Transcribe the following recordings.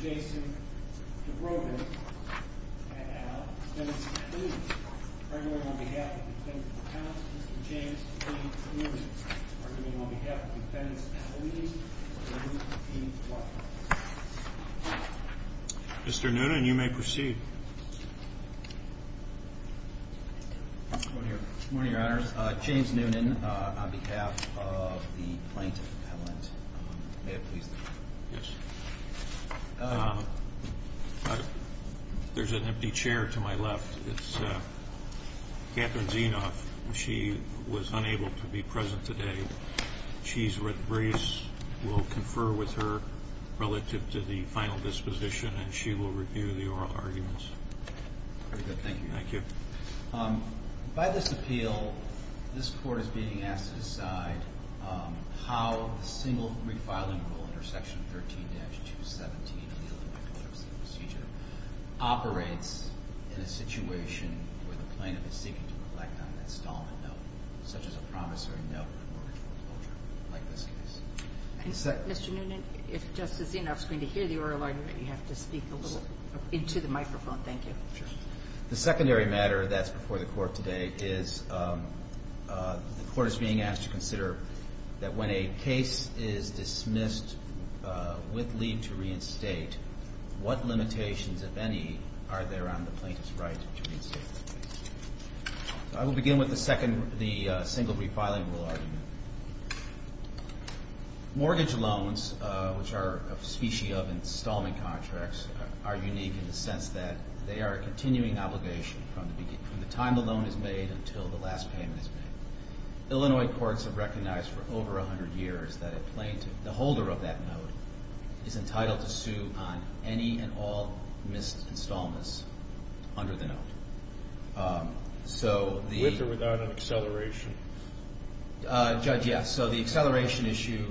V. Dubrovay, at Al. Dennis Noonan. Arguing on behalf of the defendant's counsel, Mr. James P. Noonan. Arguing on behalf of the defendant's attorney, Mr. William P. Dwight. Mr. Noonan, you may proceed. Good morning, your honors. James Noonan, on behalf of the plaintiff's appellant. May it please the court. Yes. There's an empty chair to my left. It's Catherine Zinoff. She was unable to be present today. She's with race. We'll confer with her relative to the final disposition and she will review the oral arguments. Very good. Thank you. Thank you. By this appeal, this court is being asked to decide how the single re-filing rule under section 13-217 operates in a situation where the plaintiff is seeking to reflect on an installment note, such as a promissory note for mortgage foreclosure, like this case. Mr. Noonan, if Justice Zinoff is going to hear the oral argument, you have to speak a little into the microphone. Thank you. Sure. The secondary matter that's before the court today is the court is being asked to consider that when a case is dismissed with leave to reinstate, what limitations, if any, are there on the plaintiff's right to reinstate? I will begin with the single re-filing rule argument. Mortgage loans, which are a specie of installment contracts, are unique in the sense that they are a continuing obligation from the time the loan is made until the last payment is made. Illinois courts have recognized for over 100 years that a plaintiff, the holder of that note, is entitled to sue on any and all missed installments under the note. With or without an acceleration? Judge, yes. So the acceleration issue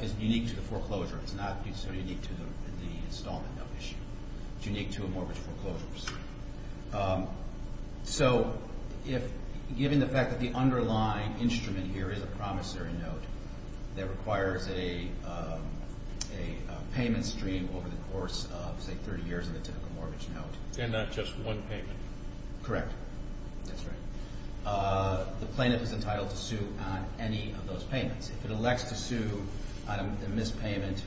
is unique to the foreclosure. It's not necessarily unique to the installment note issue. It's unique to a mortgage foreclosure. So, given the fact that the underlying instrument here is a promissory note that requires a payment stream over the course of, say, 30 years of a typical mortgage note. And not just one payment? Correct. That's right. The plaintiff is entitled to sue on any of those payments. If it elects to sue on a missed payment,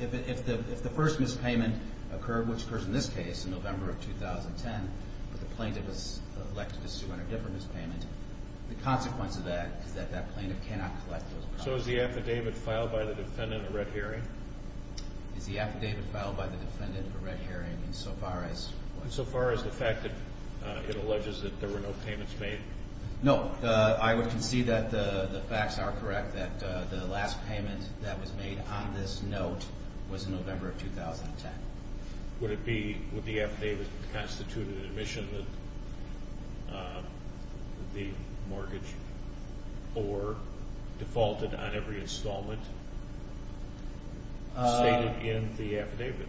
if the first missed payment occurred, which occurs in this case in November of 2010, but the plaintiff is elected to sue on a different missed payment, the consequence of that is that that plaintiff cannot collect those costs. So is the affidavit filed by the defendant a red herring? Is the affidavit filed by the defendant a red herring insofar as what? Insofar as the fact that it alleges that there were no payments made? No. I would concede that the facts are correct, that the last payment that was made on this note was in November of 2010. Would it be, would the affidavit constitute an admission that the mortgage or defaulted on every installment stated in the affidavit?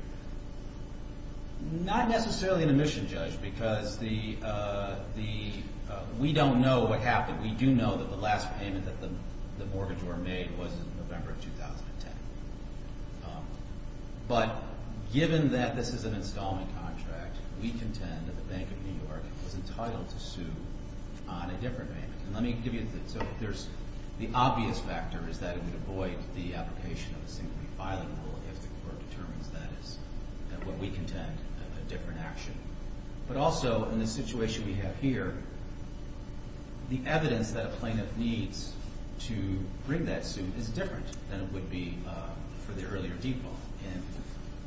Not necessarily an admission, Judge, because the, we don't know what happened. We do know that the last payment that the mortgage were made was in November of 2010. But given that this is an installment contract, we contend that the Bank of New York was entitled to sue on a different payment. And let me give you the, so there's, the obvious factor is that it would avoid the application of a single refiling rule if the court determines that is what we contend, a different action. But also in the situation we have here, the evidence that a plaintiff needs to bring that suit is different than it would be for the earlier default. And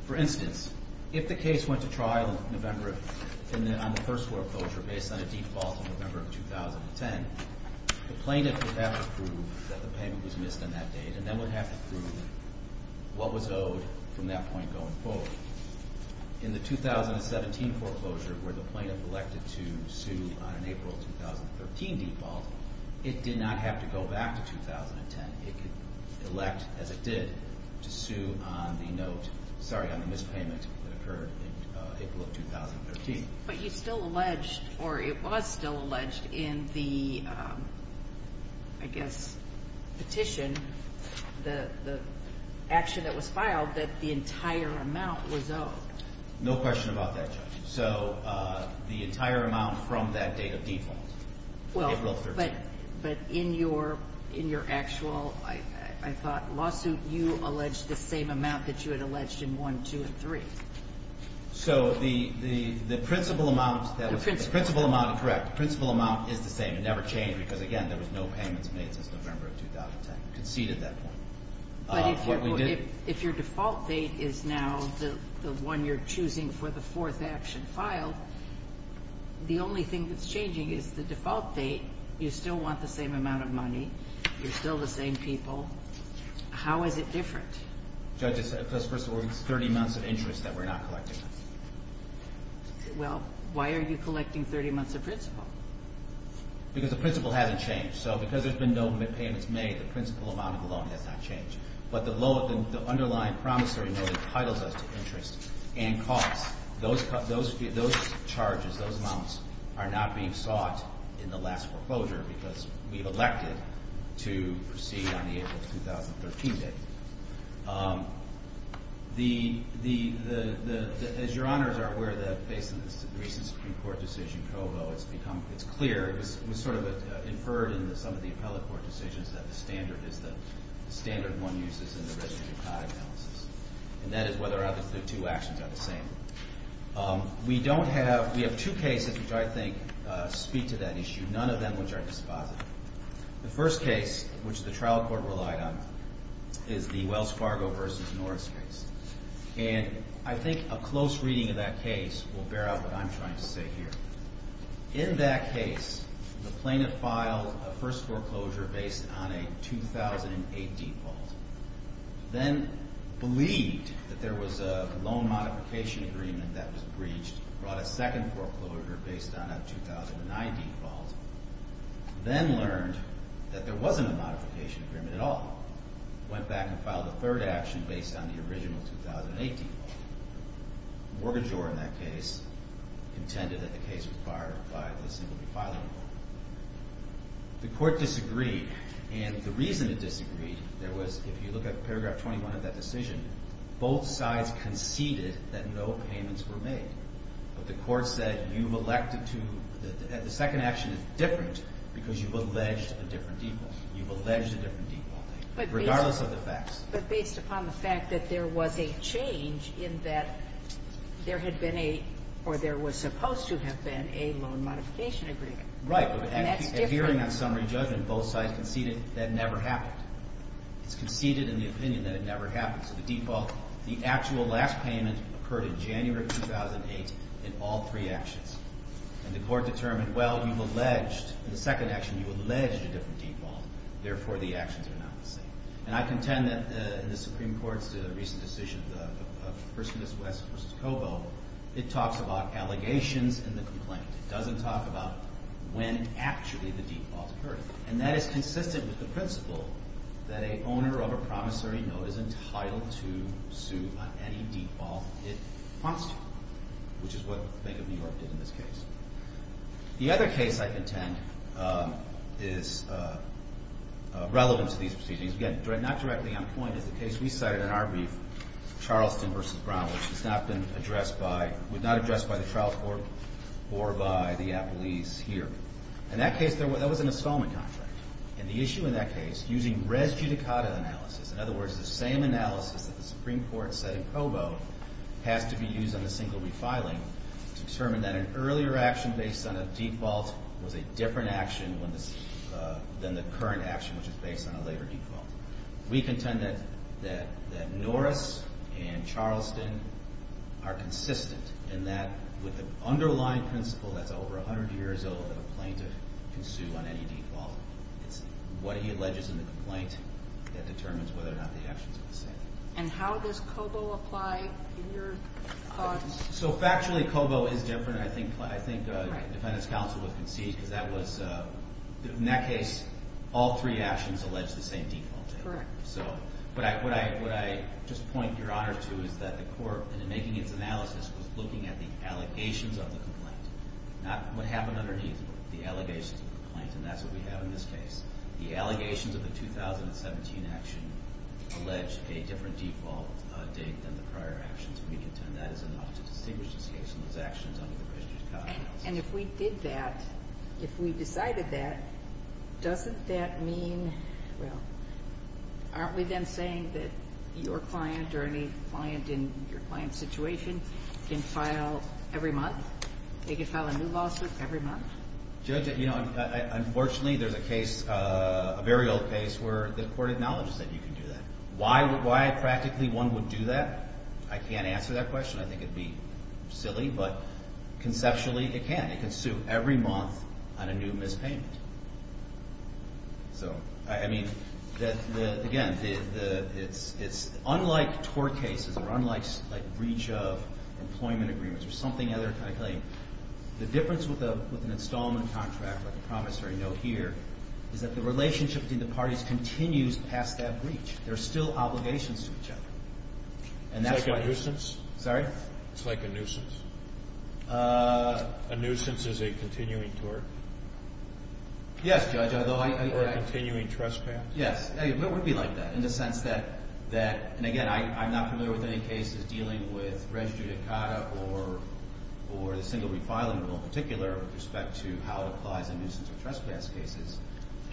for instance, if the case went to trial in November of, on the first court approach or based on a default in November of 2010, the plaintiff would have to prove that the payment was missed on that date and then would have to prove what was owed from that point going forward. In the 2017 foreclosure, where the plaintiff elected to sue on an April of 2013 default, it did not have to go back to 2010. It could elect, as it did, to sue on the note, sorry, on the missed payment that occurred in April of 2013. But you still alleged, or it was still alleged in the, I guess, petition, the action that was filed, that the entire amount was owed. No question about that, Judge. So the entire amount from that date of default, April of 2013. Well, but in your actual, I thought, lawsuit, you alleged the same amount that you had alleged in one, two, and three. So the principal amount, correct, the principal amount is the same. It never changed because, again, there was no payments made since November of 2010. Conceded that point. But if your default date is now the one you're choosing for the fourth action filed, the only thing that's changing is the default date. You still want the same amount of money. You're still the same people. How is it different? Judge, first of all, it's 30 months of interest that we're not collecting. Well, why are you collecting 30 months of principal? Because the principal hasn't changed. So because there's been no payments made, the principal amount of the loan has not changed. But the underlying promissory note entitles us to interest and costs. Those charges, those amounts, are not being sought in the last foreclosure because we've elected to proceed on the April of 2013 date. As your honors are aware, based on this recent Supreme Court decision, COBO, it's clear, it was sort of inferred in some of the appellate court decisions, that the standard is the standard one uses in the registry trial analysis. And that is whether or not the two actions are the same. We don't have – we have two cases which I think speak to that issue, none of them which are dispositive. The first case, which the trial court relied on, is the Wells Fargo v. Norris case. And I think a close reading of that case will bear out what I'm trying to say here. In that case, the plaintiff filed a first foreclosure based on a 2008 default. Then believed that there was a loan modification agreement that was breached, brought a second foreclosure based on a 2009 default. Then learned that there wasn't a modification agreement at all. Went back and filed a third action based on the original 2008 default. Mortgagor, in that case, contended that the case was fired by the simply filing board. The court disagreed. And the reason it disagreed, there was – if you look at paragraph 21 of that decision, both sides conceded that no payments were made. But the court said, you've elected to – the second action is different because you've alleged a different default. You've alleged a different default, regardless of the facts. But based upon the fact that there was a change in that there had been a – or there was supposed to have been a loan modification agreement. Right, but adhering on summary judgment, both sides conceded that never happened. It's conceded in the opinion that it never happened. So the default – the actual last payment occurred in January 2008 in all three actions. And the court determined, well, you've alleged – in the second action, you've alleged a different default. Therefore, the actions are not the same. And I contend that the Supreme Court's recent decision of First Miss West v. Cobo, it talks about allegations and the complaint. It doesn't talk about when actually the default occurred. And that is consistent with the principle that an owner of a promissory note is entitled to sue on any default it wants to, which is what Bank of New York did in this case. The other case I contend is relevant to these proceedings. Again, not directly on point, is the case we cited in our brief, Charleston v. Brown, which has not been addressed by – was not addressed by the trial court or by the appellees here. In that case, there was – that was an installment contract. And the issue in that case, using res judicata analysis – in other words, the same analysis that the Supreme Court said in Cobo has to be used on the single-week filing to determine that an earlier action based on a default was a different action than the current action, which is based on a later default. We contend that Norris and Charleston are consistent in that with the underlying principle that's over 100 years old that a plaintiff can sue on any default. It's what he alleges in the complaint that determines whether or not the actions are the same. And how does Cobo apply in your thoughts? So factually, Cobo is different. I think the Defendant's counsel was conceited because that was – in that case, all three actions allege the same default. Correct. So what I just point Your Honor to is that the court, in making its analysis, was looking at the allegations of the complaint, not what happened underneath the allegations of the complaint. And that's what we have in this case. The allegations of the 2017 action allege a different default date than the prior actions, and we contend that is enough to distinguish this case from those actions under the Richard Cobb analysis. And if we did that, if we decided that, doesn't that mean – well, aren't we then saying that your client or any client in your client's situation can file every month? They can file a new lawsuit every month? Judge, you know, unfortunately there's a case, a very old case, where the court acknowledges that you can do that. Why practically one would do that, I can't answer that question. I think it would be silly, but conceptually it can. It can sue every month on a new mispayment. So, I mean, again, it's unlike tort cases or unlike breach of employment agreements or something other kind of claim. The difference with an installment contract, like a promissory note here, is that the relationship between the parties continues past that breach. There are still obligations to each other. It's like a nuisance? Sorry? It's like a nuisance. A nuisance is a continuing tort? Yes, Judge. Or a continuing trespass? Yes. It would be like that in the sense that – and again, I'm not familiar with any cases dealing with res judicata or the single refiling rule in particular with respect to how it applies in nuisance or trespass cases,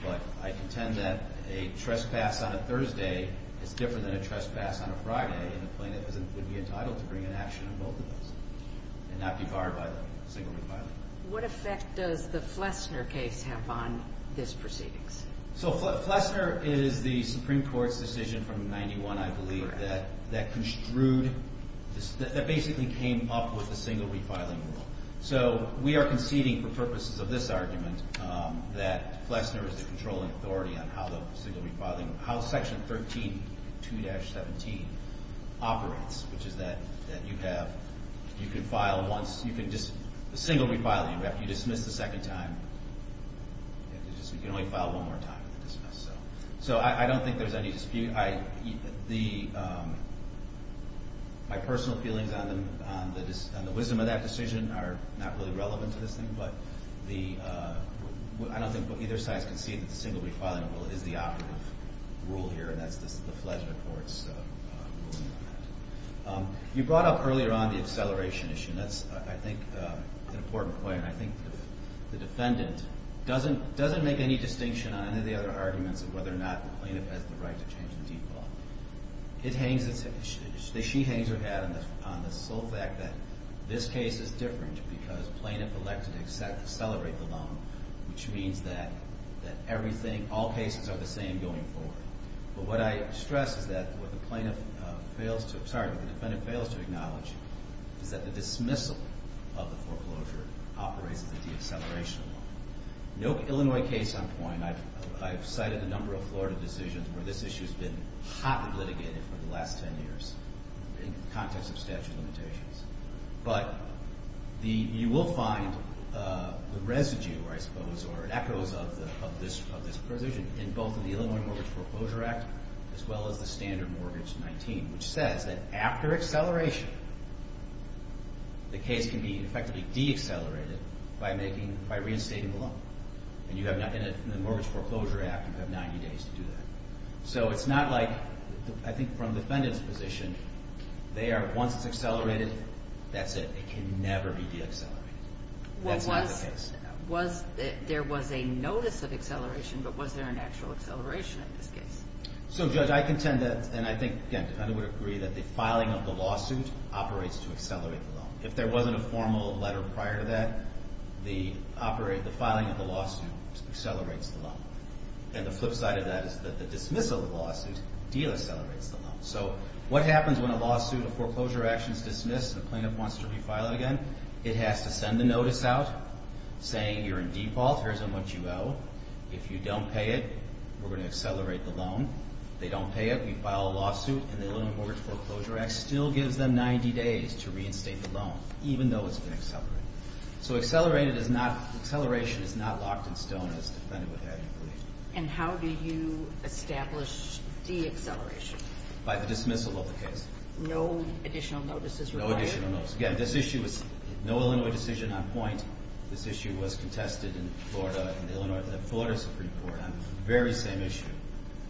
but I contend that a trespass on a Thursday is different than a trespass on a Friday, and the plaintiff would be entitled to bring an action on both of those and not be barred by the single refiling. What effect does the Flessner case have on this proceedings? So Flessner is the Supreme Court's decision from 1991, I believe, that construed – that basically came up with the single refiling rule. So we are conceding for purposes of this argument that Flessner is the controlling authority on how the single refiling – how Section 13, 2-17 operates, which is that you have – you can file once – you can just – So I don't think there's any dispute. The – my personal feelings on the wisdom of that decision are not really relevant to this thing, but the – I don't think either side can see that the single refiling rule is the operative rule here, and that's the Flessner Court's ruling on that. You brought up earlier on the acceleration issue, and that's, I think, an important point, and I think the defendant doesn't make any distinction on any of the other arguments of whether or not the plaintiff has the right to change the default. It hangs – she hangs her hat on the sole fact that this case is different because plaintiff elected to accelerate the loan, which means that everything – all cases are the same going forward. But what I stress is that what the plaintiff fails to – sorry, what the defendant fails to acknowledge is that the dismissal of the foreclosure operates at the deceleration level. No Illinois case on point. I've cited a number of Florida decisions where this issue has been hotly litigated for the last 10 years in the context of statute of limitations. But the – you will find the residue, I suppose, or echoes of this provision in both the Illinois Mortgage Foreclosure Act as well as the Standard Mortgage 19, which says that after acceleration, the case can be effectively deaccelerated by making – by reinstating the loan. And you have – in the Mortgage Foreclosure Act, you have 90 days to do that. So it's not like – I think from the defendant's position, they are – once it's accelerated, that's it. It can never be deaccelerated. That's not the case. Was – there was a notice of acceleration, but was there an actual acceleration in this case? So, Judge, I contend that – and I think, again, the defendant would agree that the filing of the lawsuit operates to accelerate the loan. If there wasn't a formal letter prior to that, the – the filing of the lawsuit accelerates the loan. And the flip side of that is that the dismissal of the lawsuit deaccelerates the loan. So what happens when a lawsuit of foreclosure action is dismissed and the plaintiff wants to refile it again? It has to send the notice out saying you're in default, here's how much you owe. If you don't pay it, we're going to accelerate the loan. If they don't pay it, we file a lawsuit. And the Illinois Mortgage Foreclosure Act still gives them 90 days to reinstate the loan, even though it's been accelerated. So accelerated is not – acceleration is not locked in stone, as the defendant would have you believe. And how do you establish deacceleration? By the dismissal of the case. No additional notices required? No additional notices. Again, this issue was – no Illinois decision on point. This issue was contested in Florida in the Illinois – the Florida Supreme Court on the very same issue.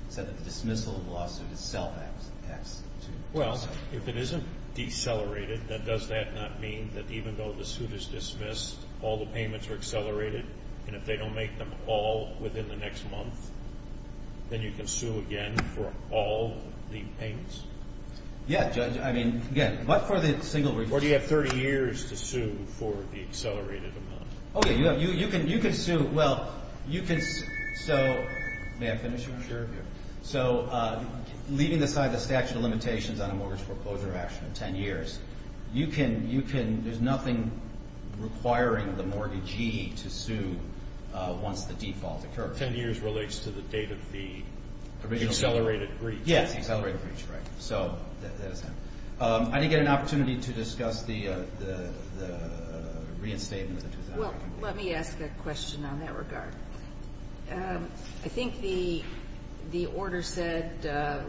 It said that the dismissal of the lawsuit is self-executed. Well, if it isn't decelerated, then does that not mean that even though the suit is dismissed, all the payments are accelerated? And if they don't make them all within the next month, then you can sue again for all the payments? Yeah, Judge. I mean, again, but for the single – Or do you have 30 years to sue for the accelerated amount? Oh, yeah. You can sue – well, you can – so – may I finish? Sure. So leaving aside the statute of limitations on a mortgage foreclosure action of 10 years, you can – you can – there's nothing requiring the mortgagee to sue once the default occurs. Ten years relates to the date of the accelerated breach. Yes, the accelerated breach. Right. So that is that. I didn't get an opportunity to discuss the reinstatement of the 2000. Well, let me ask a question on that regard. I think the order said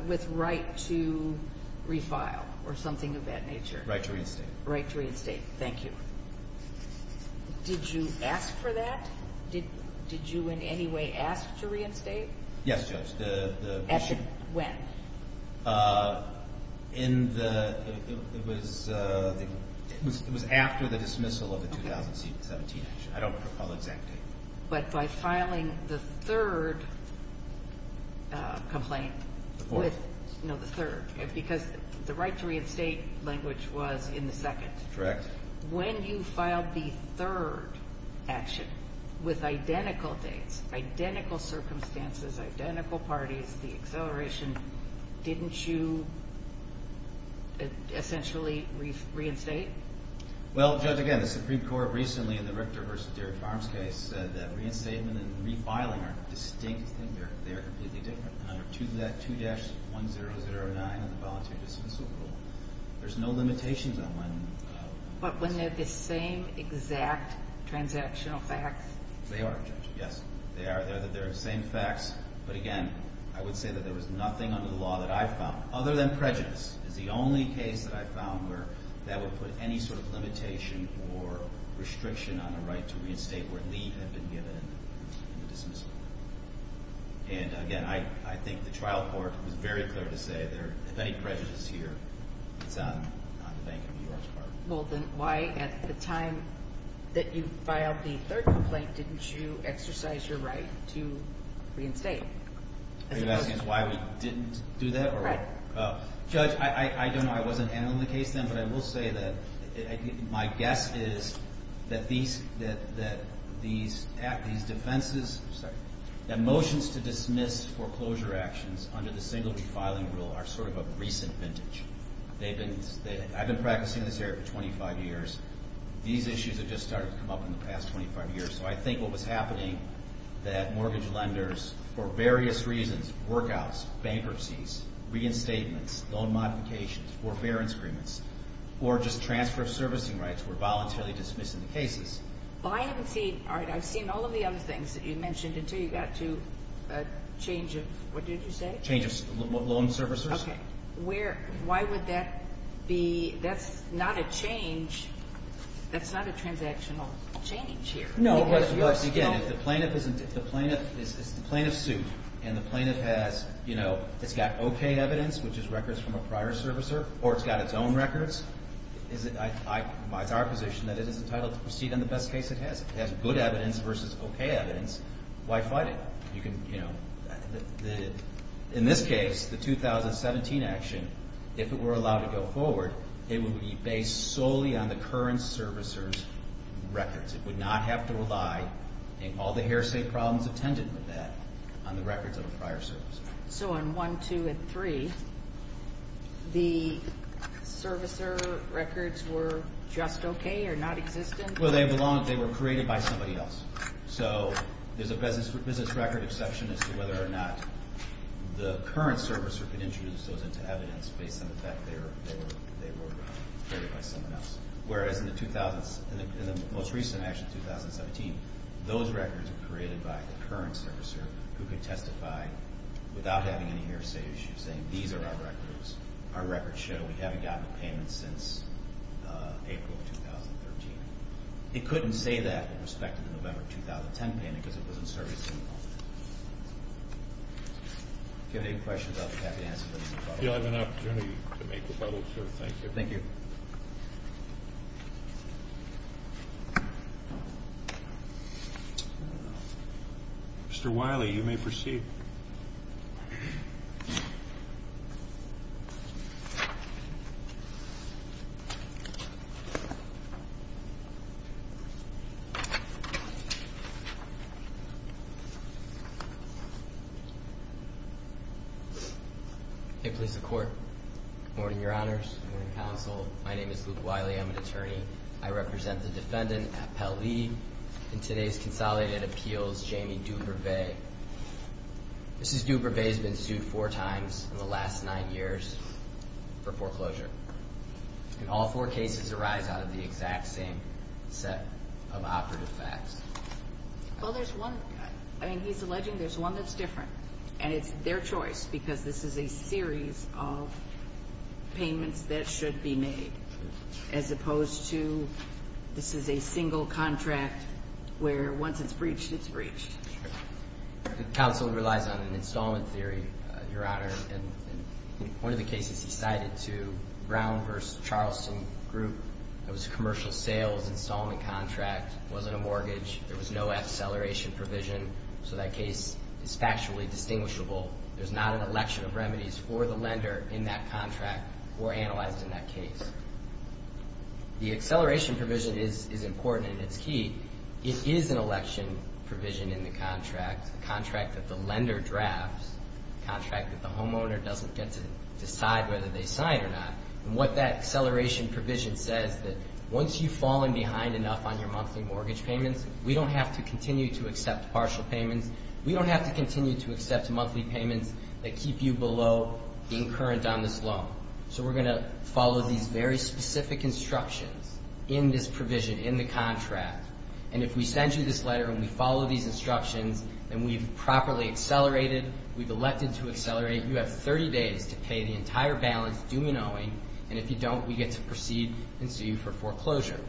with right to refile or something of that nature. Right to reinstate. Right to reinstate. Thank you. Did you ask for that? Did you in any way ask to reinstate? Yes, Judge. At the – when? In the – it was after the dismissal of the 2017 action. I don't recall the exact date. But by filing the third complaint. The fourth. No, the third. Because the right to reinstate language was in the second. Correct. When you filed the third action with identical dates, identical circumstances, identical parties, the acceleration, didn't you essentially reinstate? Well, Judge, again, the Supreme Court recently in the Richter v. Deere Farms case said that reinstatement and refiling are distinct things. They are completely different. Under 2-1009 in the voluntary dismissal rule, there's no limitations on when. But when they're the same exact transactional facts. They are, Judge, yes. They are. They're the same facts. But, again, I would say that there was nothing under the law that I found, other than prejudice, is the only case that I found where that would put any sort of limitation or restriction on the right to reinstate where leave had been given in the dismissal. And, again, I think the trial court was very clear to say if there's any prejudice here, it's on the Bank of New York's part. Well, then why at the time that you filed the third complaint didn't you exercise your right to reinstate? Are you asking us why we didn't do that? Right. Judge, I don't know. I wasn't handling the case then. But I will say that my guess is that these defenses, that motions to dismiss foreclosure actions under the single refiling rule are sort of a recent vintage. I've been practicing in this area for 25 years. These issues have just started to come up in the past 25 years. So I think what was happening, that mortgage lenders, for various reasons, work-outs, bankruptcies, reinstatements, loan modifications, forbearance agreements, or just transfer of servicing rights were voluntarily dismissed in the cases. Well, I haven't seen, all right, I've seen all of the other things that you mentioned until you got to a change of, what did you say? Change of loan servicers. Okay. Why would that be? That's not a change. That's not a transactional change here. No, but again, if the plaintiff is in the plaintiff's suit and the plaintiff has, you know, it's got okay evidence, which is records from a prior servicer, or it's got its own records, it's our position that it is entitled to proceed on the best case it has. If it has good evidence versus okay evidence, why fight it? You can, you know, in this case, the 2017 action, if it were allowed to go forward, it would be based solely on the current servicer's records. It would not have to rely, and all the hearsay problems attended with that, on the records of a prior servicer. So on 1, 2, and 3, the servicer records were just okay or not existent? Well, they were created by somebody else. So there's a business record exception as to whether or not the current servicer could introduce those into evidence based on the fact they were created by someone else. Whereas in the most recent action, 2017, those records were created by the current servicer who could testify without having any hearsay issues, saying these are our records, our records show we haven't gotten a payment since April of 2013. It couldn't say that with respect to the November of 2010 payment because it wasn't serviced to the public. If you have any questions, I'll be happy to answer them. You'll have an opportunity to make rebuttals, sir. Thank you. Thank you. Mr. Wiley, you may proceed. Thank you. Hey, police and court. Good morning, Your Honors. Good morning, counsel. My name is Luke Wiley. I'm an attorney. I represent the defendant, Appel Lee, in today's consolidated appeals, Jamie Dubervet. Mrs. Dubervet has been sued four times in the last nine years for foreclosure. And all four cases arise out of the exact same set of operative facts. Well, there's one. I mean, he's alleging there's one that's different. And it's their choice because this is a series of payments that should be made as opposed to this is a single contract where once it's breached, it's breached. The counsel relies on an installment theory, Your Honor. One of the cases he cited to Brown v. Charleston Group, it was a commercial sales installment contract. It wasn't a mortgage. There was no acceleration provision. So that case is factually distinguishable. There's not an election of remedies for the lender in that contract or analyzed in that case. The acceleration provision is important and it's key. It is an election provision in the contract, a contract that the lender drafts, a contract that the homeowner doesn't get to decide whether they sign it or not. And what that acceleration provision says, that once you've fallen behind enough on your monthly mortgage payments, we don't have to continue to accept partial payments. We don't have to continue to accept monthly payments that keep you below being current on this loan. So we're going to follow these very specific instructions in this provision, in the contract. And if we send you this letter and we follow these instructions, and we've properly accelerated, we've elected to accelerate, you have 30 days to pay the entire balance, do me knowing. And if you don't, we get to proceed and sue you for foreclosure.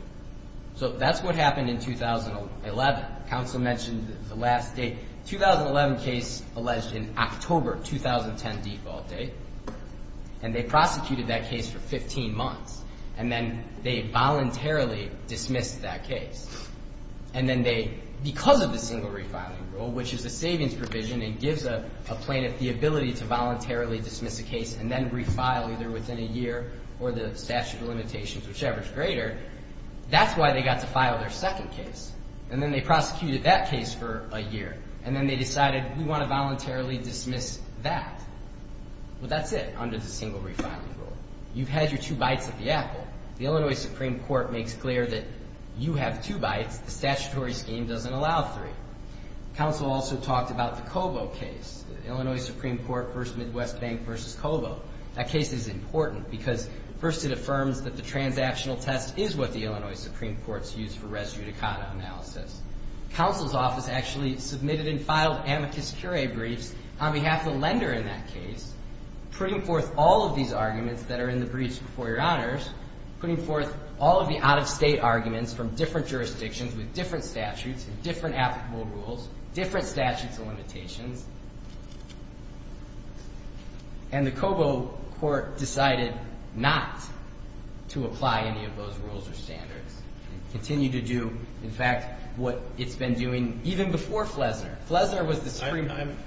So that's what happened in 2011. Counsel mentioned the last date. 2011 case alleged in October, 2010 default date. And they prosecuted that case for 15 months. And then they voluntarily dismissed that case. And then they, because of the single refiling rule, which is a savings provision and gives a plaintiff the ability to voluntarily dismiss a case and then refile either within a year or the statute of limitations, whichever is greater, that's why they got to file their second case. And then they prosecuted that case for a year. And then they decided, we want to voluntarily dismiss that. Well, that's it under the single refiling rule. You've had your two bites at the apple. The Illinois Supreme Court makes clear that you have two bites. The statutory scheme doesn't allow three. Counsel also talked about the Cobo case. Illinois Supreme Court v. Midwest Bank v. Cobo. That case is important because first it affirms that the transactional test is what the Illinois Supreme Court's use for res judicata analysis. Counsel's office actually submitted and filed amicus curiae briefs on behalf of the lender in that case, putting forth all of these arguments that are in the briefs before Your Honors, putting forth all of the out-of-state arguments from different jurisdictions with different statutes and different applicable rules, different statutes and limitations. And the Cobo court decided not to apply any of those rules or standards and continued to do, in fact, what it's been doing even before Flesner. Flesner was the Supreme Court. I'm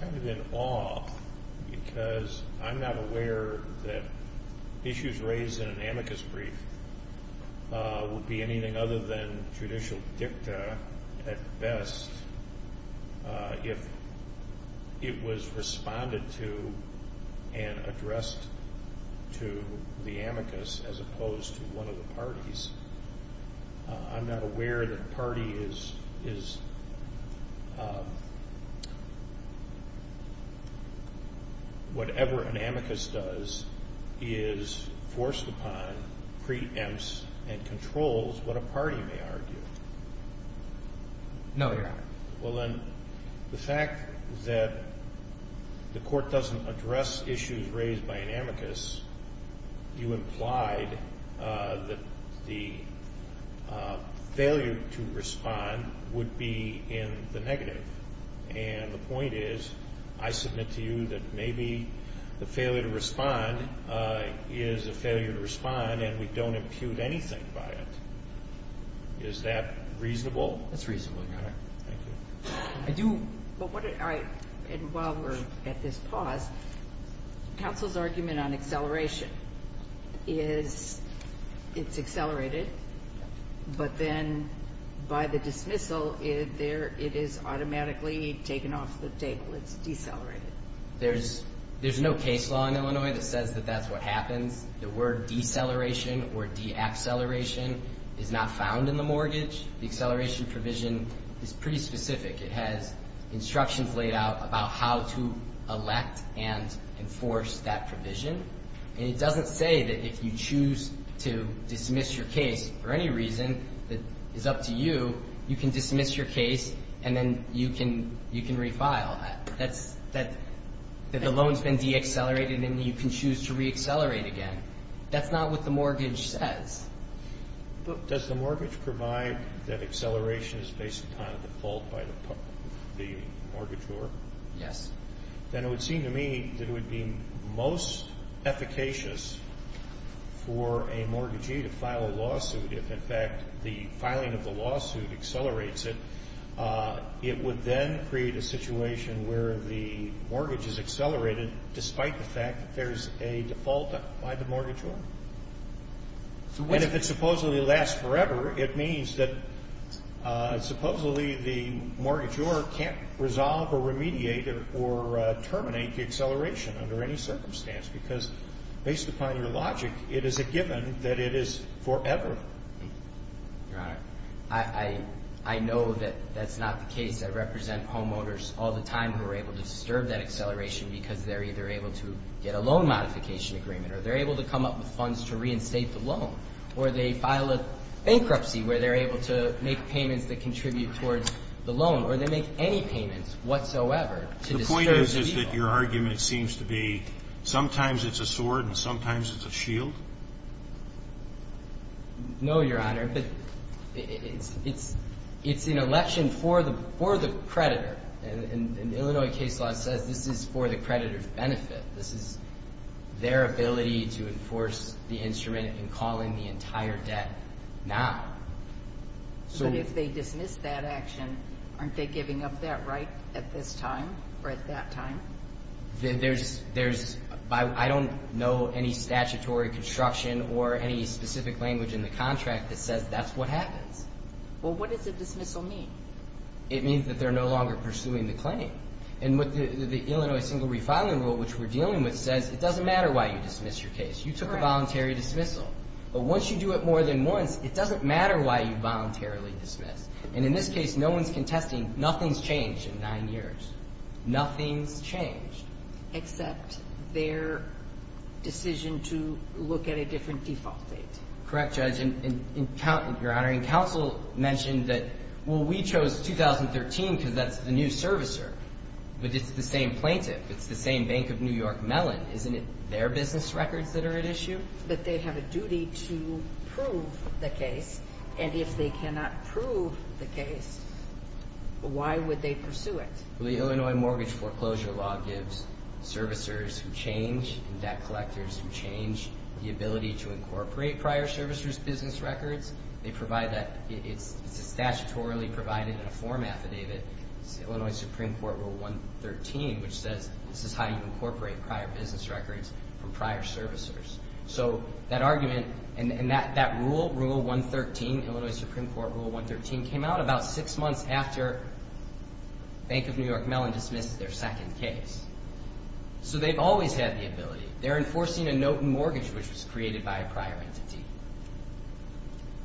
kind of in awe because I'm not aware that issues raised in an amicus brief would be anything other than judicial dicta at best if it was responded to and addressed to the amicus as opposed to one of the parties. I'm not aware that a party is, whatever an amicus does, is forced upon, preempts, and controls what a party may argue. No, Your Honor. Well, then, the fact that the court doesn't address issues raised by an amicus, you implied that the failure to respond would be in the negative. And the point is, I submit to you that maybe the failure to respond is a failure to respond and we don't impute anything by it. Is that reasonable? That's reasonable, Your Honor. Thank you. While we're at this pause, counsel's argument on acceleration is it's accelerated, but then by the dismissal it is automatically taken off the table. It's decelerated. There's no case law in Illinois that says that that's what happens. The word deceleration or deacceleration is not found in the mortgage. The acceleration provision is pretty specific. It has instructions laid out about how to elect and enforce that provision. And it doesn't say that if you choose to dismiss your case for any reason, that it's up to you, you can dismiss your case and then you can refile. That's the loan's been deaccelerated and you can choose to reaccelerate again. That's not what the mortgage says. Does the mortgage provide that acceleration is based upon default by the mortgagor? Yes. Then it would seem to me that it would be most efficacious for a mortgagee to file a lawsuit if, in fact, the filing of the lawsuit accelerates it. It would then create a situation where the mortgage is accelerated, despite the fact that there's a default by the mortgagor. And if it supposedly lasts forever, it means that supposedly the mortgagor can't resolve or remediate or terminate the acceleration under any circumstance because, based upon your logic, it is a given that it is forever. Your Honor, I know that that's not the case. I represent homeowners all the time who are able to disturb that acceleration because they're either able to get a loan modification agreement or they're able to come up with funds to reinstate the loan, or they file a bankruptcy where they're able to make payments that contribute towards the loan, or they make any payments whatsoever to disturb the deal. The point is, is that your argument seems to be sometimes it's a sword and sometimes it's a shield? No, Your Honor. But it's an election for the creditor. And Illinois case law says this is for the creditor's benefit. This is their ability to enforce the instrument in calling the entire debt now. But if they dismiss that action, aren't they giving up that right at this time or at that time? I don't know any statutory construction or any specific language in the contract that says that's what happens. Well, what does the dismissal mean? It means that they're no longer pursuing the claim. And what the Illinois single refiling rule, which we're dealing with, says it doesn't matter why you dismiss your case. You took a voluntary dismissal. But once you do it more than once, it doesn't matter why you voluntarily dismiss. And in this case, no one's contesting. Nothing's changed in nine years. Nothing's changed. Except their decision to look at a different default date. Correct, Judge. And counsel mentioned that, well, we chose 2013 because that's the new servicer. But it's the same plaintiff. It's the same Bank of New York Mellon. Isn't it their business records that are at issue? But they have a duty to prove the case. And if they cannot prove the case, why would they pursue it? Well, the Illinois mortgage foreclosure law gives servicers who change and debt collectors who change the ability to incorporate prior servicers' business records. They provide that. It's statutorily provided in a form affidavit. It's the Illinois Supreme Court Rule 113, which says this is how you incorporate prior business records from prior servicers. So that argument and that rule, Rule 113, Illinois Supreme Court Rule 113, came out about six months after Bank of New York Mellon dismissed their second case. So they've always had the ability. They're enforcing a note in mortgage which was created by a prior entity.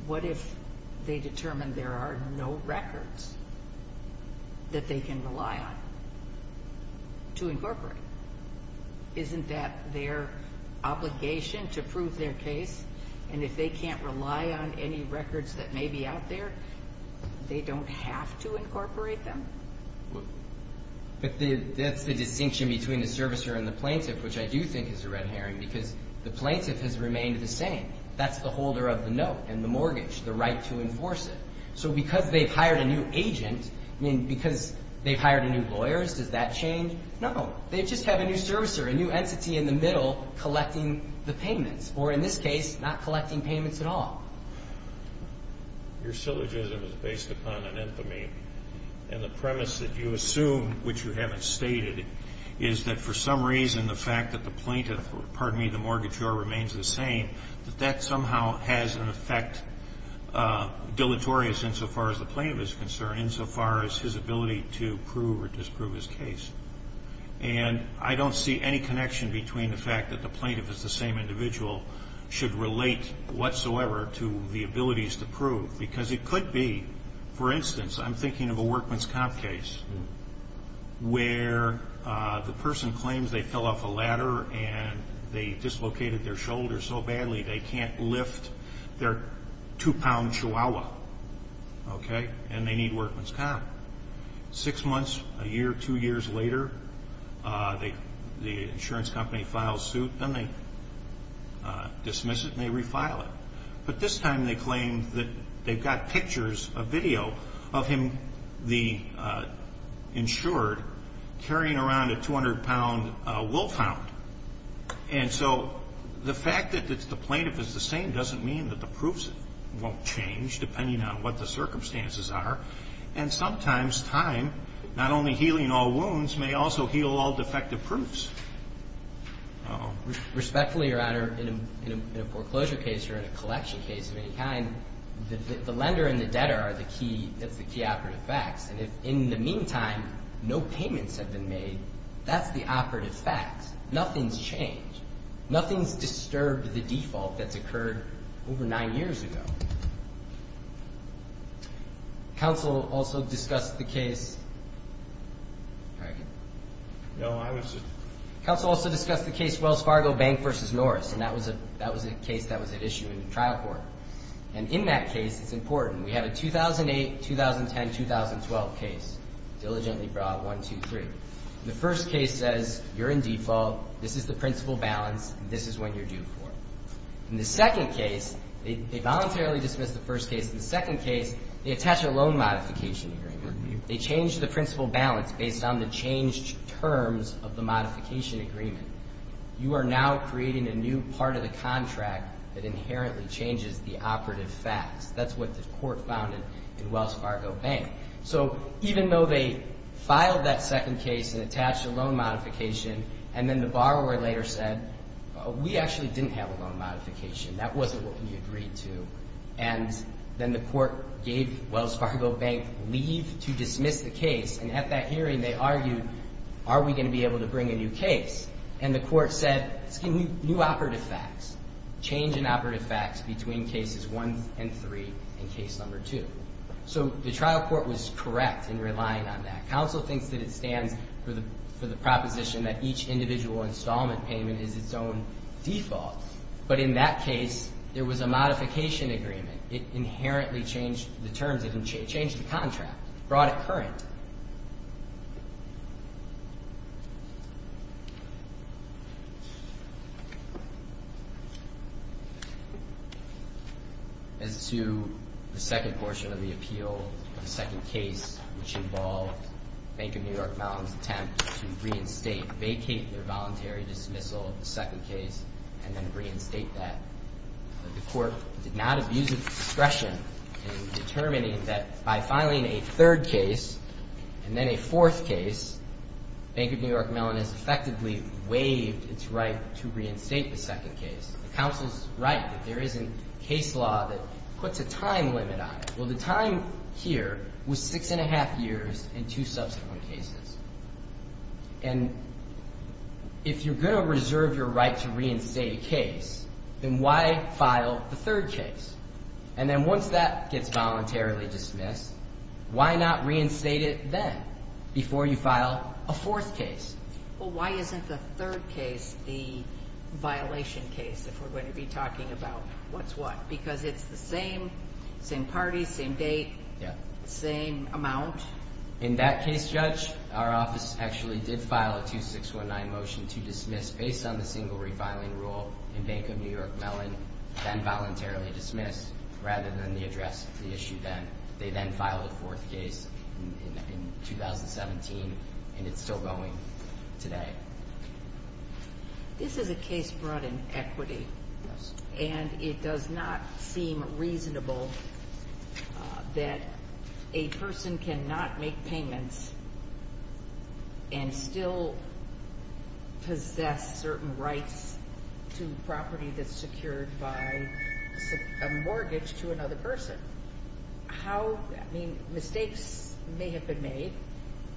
What if they determine there are no records that they can rely on to incorporate? Isn't that their obligation to prove their case? And if they can't rely on any records that may be out there, they don't have to incorporate them? But that's the distinction between the servicer and the plaintiff, which I do think is a red herring because the plaintiff has remained the same. That's the holder of the note and the mortgage, the right to enforce it. So because they've hired a new agent, I mean, because they've hired a new lawyer, does that change? No. They just have a new servicer, a new entity in the middle collecting the payments, or in this case, not collecting payments at all. Your syllogism is based upon an infamy, and the premise that you assume which you haven't stated is that for some reason the fact that the plaintiff or, pardon me, the mortgagor remains the same, that that somehow has an effect dilatorious insofar as the plaintiff is concerned, insofar as his ability to prove or disprove his case. And I don't see any connection between the fact that the plaintiff is the same individual, should relate whatsoever to the abilities to prove, because it could be, for instance, I'm thinking of a workman's comp case where the person claims they fell off a ladder and they dislocated their shoulder so badly they can't lift their two-pound chihuahua, okay, and they need workman's comp. Six months, a year, two years later, the insurance company files suit, and they dismiss it and they refile it. But this time they claim that they've got pictures, a video, of him, the insured, carrying around a 200-pound wolfhound. And so the fact that the plaintiff is the same doesn't mean that the proofs won't change, depending on what the circumstances are. And sometimes time, not only healing all wounds, may also heal all defective proofs. Respectfully, Your Honor, in a foreclosure case or in a collection case of any kind, the lender and the debtor are the key operative facts. And in the meantime, no payments have been made. That's the operative fact. Nothing's changed. Nothing's disturbed the default that's occurred over nine years ago. Counsel also discussed the case of the plaintiff. Counsel also discussed the case of Wells Fargo Bank v. Norris, and that was a case that was at issue in the trial court. And in that case, it's important. We have a 2008, 2010, 2012 case, diligently brought 1, 2, 3. The first case says you're in default, this is the principal balance, and this is what you're due for. In the second case, they voluntarily dismiss the first case. In the second case, they attach a loan modification agreement. They change the principal balance based on the changed terms of the modification agreement. You are now creating a new part of the contract that inherently changes the operative facts. That's what the court found in Wells Fargo Bank. So even though they filed that second case and attached a loan modification, and then the borrower later said, we actually didn't have a loan modification, that wasn't what we agreed to, and then the court gave Wells Fargo Bank leave to dismiss the case, and at that hearing they argued, are we going to be able to bring a new case? And the court said, new operative facts, change in operative facts between cases 1 and 3 in case number 2. So the trial court was correct in relying on that. Counsel thinks that it stands for the proposition that each individual installment payment is its own default. But in that case, there was a modification agreement. It inherently changed the terms, it changed the contract, brought it current. As to the second portion of the appeal, the second case, which involved Bank of New York Mountain's attempt to reinstate, vacate their voluntary dismissal of the second case and then reinstate that, the court did not abuse its discretion in determining that by filing a third case and then a fourth case, Bank of New York Mountain has effectively waived its right to reinstate the second case. The counsel's right that there isn't case law that puts a time limit on it. Well, the time here was 6 1⁄2 years in two subsequent cases. And if you're going to reserve your right to reinstate a case, then why file the third case? And then once that gets voluntarily dismissed, why not reinstate it then before you file a fourth case? Well, why isn't the third case the violation case if we're going to be talking about what's what? Because it's the same parties, same date, same amount. In that case, Judge, our office actually did file a 2619 motion to dismiss, based on the single refiling rule in Bank of New York Mountain, then voluntarily dismiss rather than the address of the issue then. They then filed a fourth case in 2017, and it's still going today. This is a case brought in equity, and it does not seem reasonable that a person cannot make payments and still possess certain rights to property that's secured by a mortgage to another person. I mean, mistakes may have been made,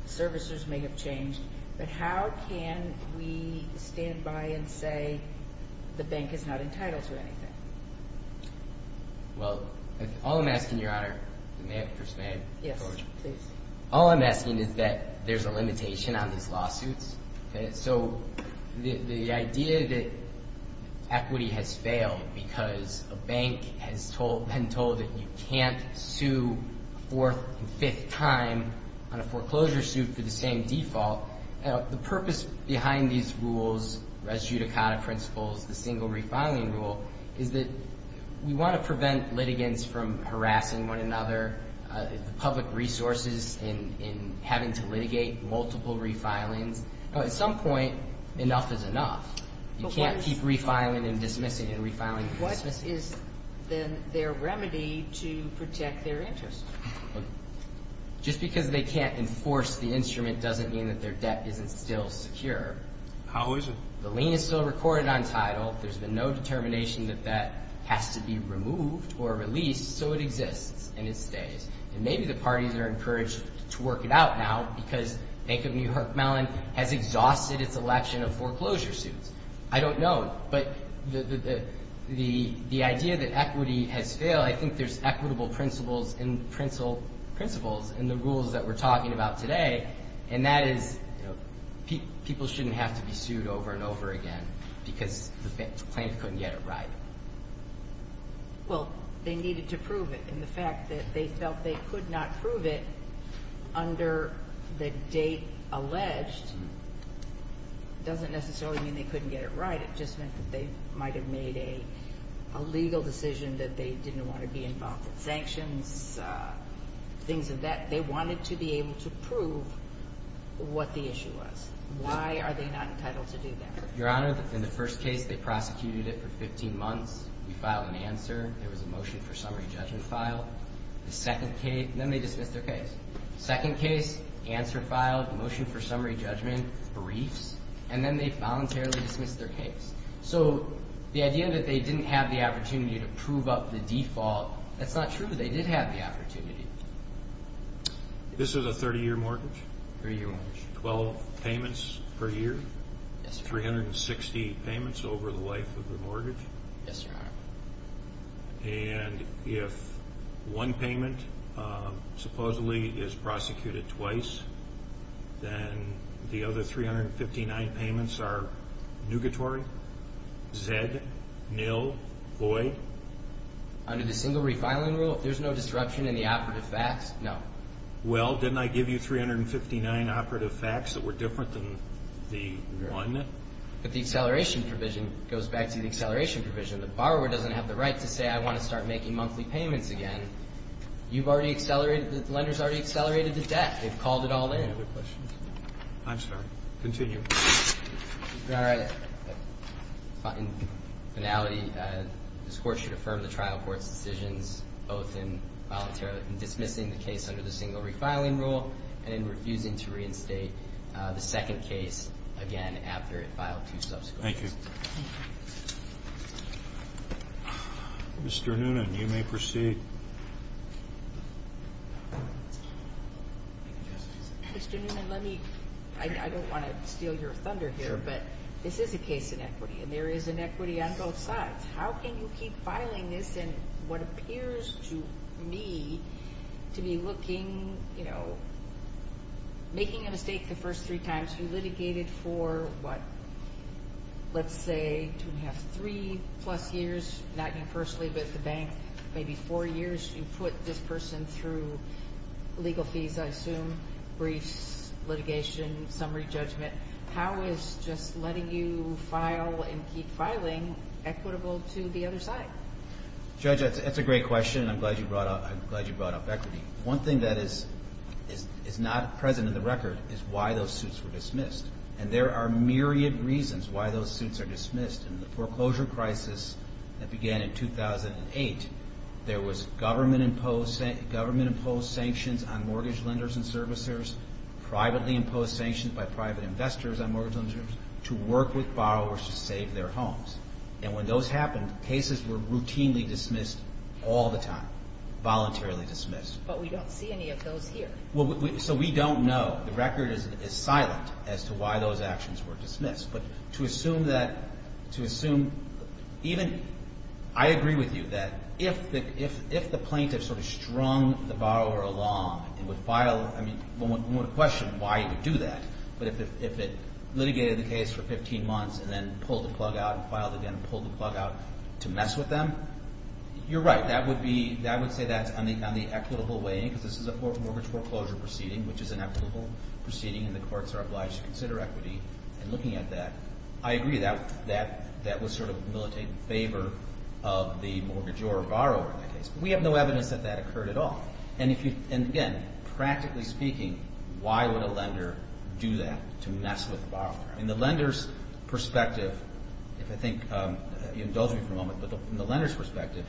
servicers may have changed, but how can we stand by and say the bank is not entitled to anything? Well, all I'm asking, Your Honor, may I have a perspective? Yes, please. All I'm asking is that there's a limitation on these lawsuits. So the idea that equity has failed because a bank has been told that you can't sue a fourth and fifth time on a foreclosure suit for the same default and the purpose behind these rules, res judicata principles, the single refiling rule, is that we want to prevent litigants from harassing one another, the public resources in having to litigate multiple refilings. At some point, enough is enough. You can't keep refiling and dismissing and refiling and dismissing. What is then their remedy to protect their interest? Just because they can't enforce the instrument doesn't mean that their debt isn't still secure. How is it? The lien is still recorded on title. There's been no determination that that has to be removed or released, so it exists and it stays. And maybe the parties are encouraged to work it out now because Bank of New York Mellon has exhausted its election of foreclosure suits. I don't know. But the idea that equity has failed, I think there's equitable principles in the rules that we're talking about today, and that is people shouldn't have to be sued over and over again because the claimant couldn't get it right. Well, they needed to prove it, and the fact that they felt they could not prove it under the date alleged doesn't necessarily mean they couldn't get it right. It just meant that they might have made a legal decision that they didn't want to be involved in sanctions, things of that. They wanted to be able to prove what the issue was. Why are they not entitled to do that? Your Honor, in the first case, they prosecuted it for 15 months. We filed an answer. There was a motion for summary judgment filed. Then they dismissed their case. Second case, answer filed, motion for summary judgment, briefs, and then they voluntarily dismissed their case. So the idea that they didn't have the opportunity to prove up the default, that's not true. They did have the opportunity. This is a 30-year mortgage? Three-year mortgage. Twelve payments per year? Yes, Your Honor. 360 payments over the life of the mortgage? Yes, Your Honor. And if one payment supposedly is prosecuted twice, then the other 359 payments are nugatory? Zed? Nil? Void? Under the single refiling rule, if there's no disruption in the operative facts, no. Well, didn't I give you 359 operative facts that were different than the one? But the acceleration provision goes back to the acceleration provision. The borrower doesn't have the right to say, I want to start making monthly payments again. You've already accelerated, the lender's already accelerated the debt. They've called it all in. Any other questions? I'm sorry. Continue. All right. In finality, this Court should affirm the trial court's decisions, both in voluntarily dismissing the case under the single refiling rule and in refusing to reinstate the second case again after it filed two subsequent cases. Thank you. Mr. Noonan, you may proceed. Mr. Noonan, let me – I don't want to steal your thunder here, but this is a case in equity, and there is inequity on both sides. How can you keep filing this in what appears to me to be looking, you know, making a mistake the first three times? You litigated for what, let's say, two and a half, three-plus years, not you personally but the bank, maybe four years. You put this person through legal fees, I assume, briefs, litigation, summary judgment. How is just letting you file and keep filing equitable to the other side? Judge, that's a great question, and I'm glad you brought up equity. One thing that is not present in the record is why those suits were dismissed, and there are myriad reasons why those suits are dismissed. In the foreclosure crisis that began in 2008, there was government-imposed sanctions on mortgage lenders and servicers, privately-imposed sanctions by private investors on mortgage lenders to work with borrowers to save their homes. And when those happened, cases were routinely dismissed all the time, voluntarily dismissed. But we don't see any of those here. So we don't know. The record is silent as to why those actions were dismissed. But to assume that, to assume even I agree with you that if the plaintiff sort of strung the borrower along and would file, I mean, one would question why he would do that. But if it litigated the case for 15 months and then pulled the plug out and filed again and pulled the plug out to mess with them, you're right. That would be, I would say that's on the equitable way because this is a mortgage foreclosure proceeding, which is an equitable proceeding, and the courts are obliged to consider equity. And looking at that, I agree. That was sort of militating favor of the mortgagor or borrower in that case. But we have no evidence that that occurred at all. And, again, practically speaking, why would a lender do that to mess with the borrower? In the lender's perspective, if I think you indulge me for a moment, but from the lender's perspective,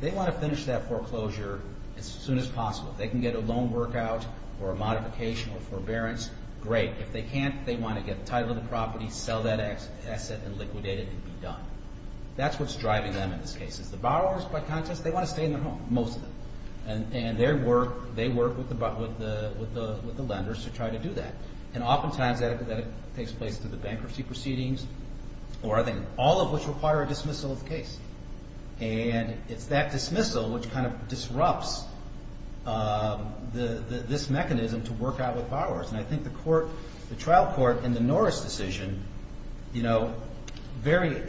they want to finish that foreclosure as soon as possible. If they can get a loan work out or a modification or forbearance, great. If they can't, they want to get the title of the property, sell that asset and liquidate it and be done. That's what's driving them in this case. The borrowers, by contrast, they want to stay in their home, most of them. And they work with the lenders to try to do that. And oftentimes that takes place through the bankruptcy proceedings or I think all of which require a dismissal of the case. And it's that dismissal which kind of disrupts this mechanism to work out with borrowers. And I think the trial court in the Norris decision very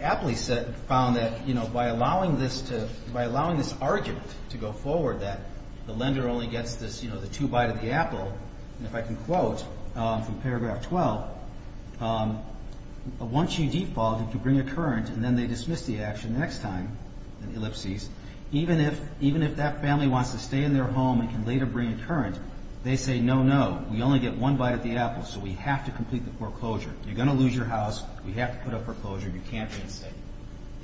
aptly found that by allowing this argument to go forward that the lender only gets the two bite of the apple, and if I can quote from paragraph 12, once you default, if you bring a current and then they dismiss the action the next time in ellipses, even if that family wants to stay in their home and can later bring a current, they say, no, no. We only get one bite of the apple, so we have to complete the foreclosure. You're going to lose your house. We have to put up foreclosure. You can't be in state.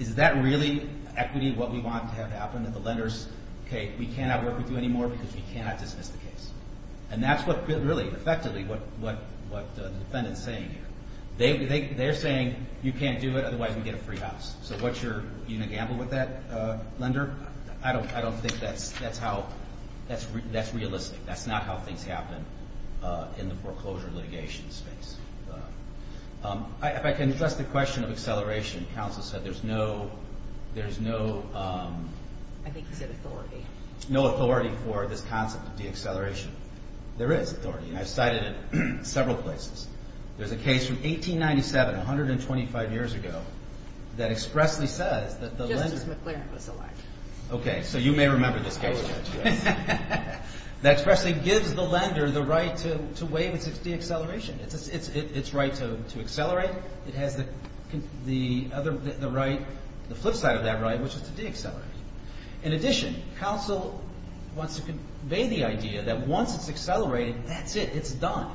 Is that really equity what we want to have happen, that the lenders, okay, we cannot work with you anymore because we cannot dismiss the case? And that's what really effectively what the defendant is saying here. They're saying you can't do it, otherwise we get a free house. So are you going to gamble with that, lender? I don't think that's realistic. That's not how things happen in the foreclosure litigation space. If I can address the question of acceleration. Counsel said there's no authority for this concept of deacceleration. There is authority, and I've cited it in several places. There's a case from 1897, 125 years ago, that expressly says that the lender. Justice McLaren was elect. Okay, so you may remember this case. That expressly gives the lender the right to waive its deacceleration, its right to accelerate. It has the flip side of that right, which is to deaccelerate. In addition, counsel wants to convey the idea that once it's accelerated, that's it. It's done.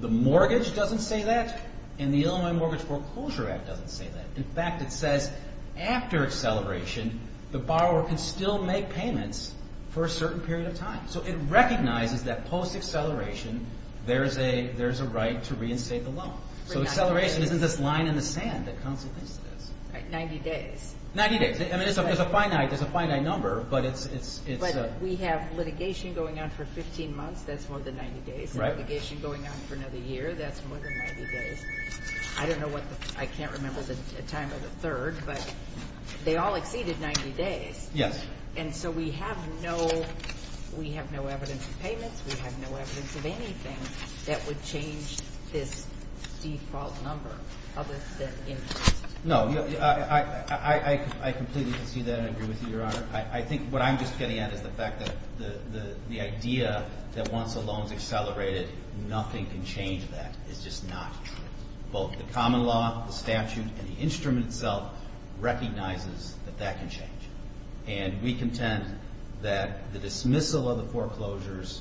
The mortgage doesn't say that, and the Illinois Mortgage Foreclosure Act doesn't say that. In fact, it says after acceleration, the borrower can still make payments for a certain period of time. So it recognizes that post-acceleration, there's a right to reinstate the loan. So acceleration is in this line in the sand that counsel thinks it is. Right, 90 days. 90 days. I mean, there's a finite number, but it's a... But we have litigation going on for 15 months. That's more than 90 days. Right. Litigation going on for another year. That's more than 90 days. I don't know what the... I can't remember the time of the third, but they all exceeded 90 days. Yes. And so we have no evidence of payments. We have no evidence of anything that would change this default number of the interest. No. I completely concede that and agree with you, Your Honor. I think what I'm just getting at is the fact that the idea that once a loan is accelerated, nothing can change that is just not true. Both the common law, the statute, and the instrument itself recognizes that that can change. And we contend that the dismissal of the foreclosures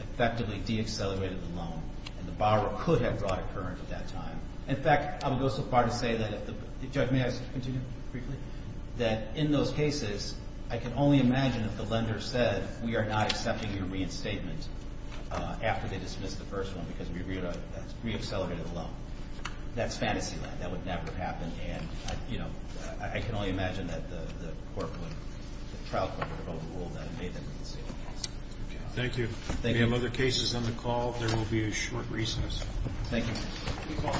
effectively deaccelerated the loan, and the borrower could have brought a current at that time. In fact, I would go so far to say that if the... Judge, may I continue briefly? That in those cases, I can only imagine if the lender said, we are not accepting your reinstatement after they dismiss the first one because we reaccelerated the loan. That's fantasy land. That would never have happened. And, you know, I can only imagine that the court would... the trial court would have overruled that and made that a conceivable case. Thank you. If you have other cases on the call, there will be a short recess. Thank you.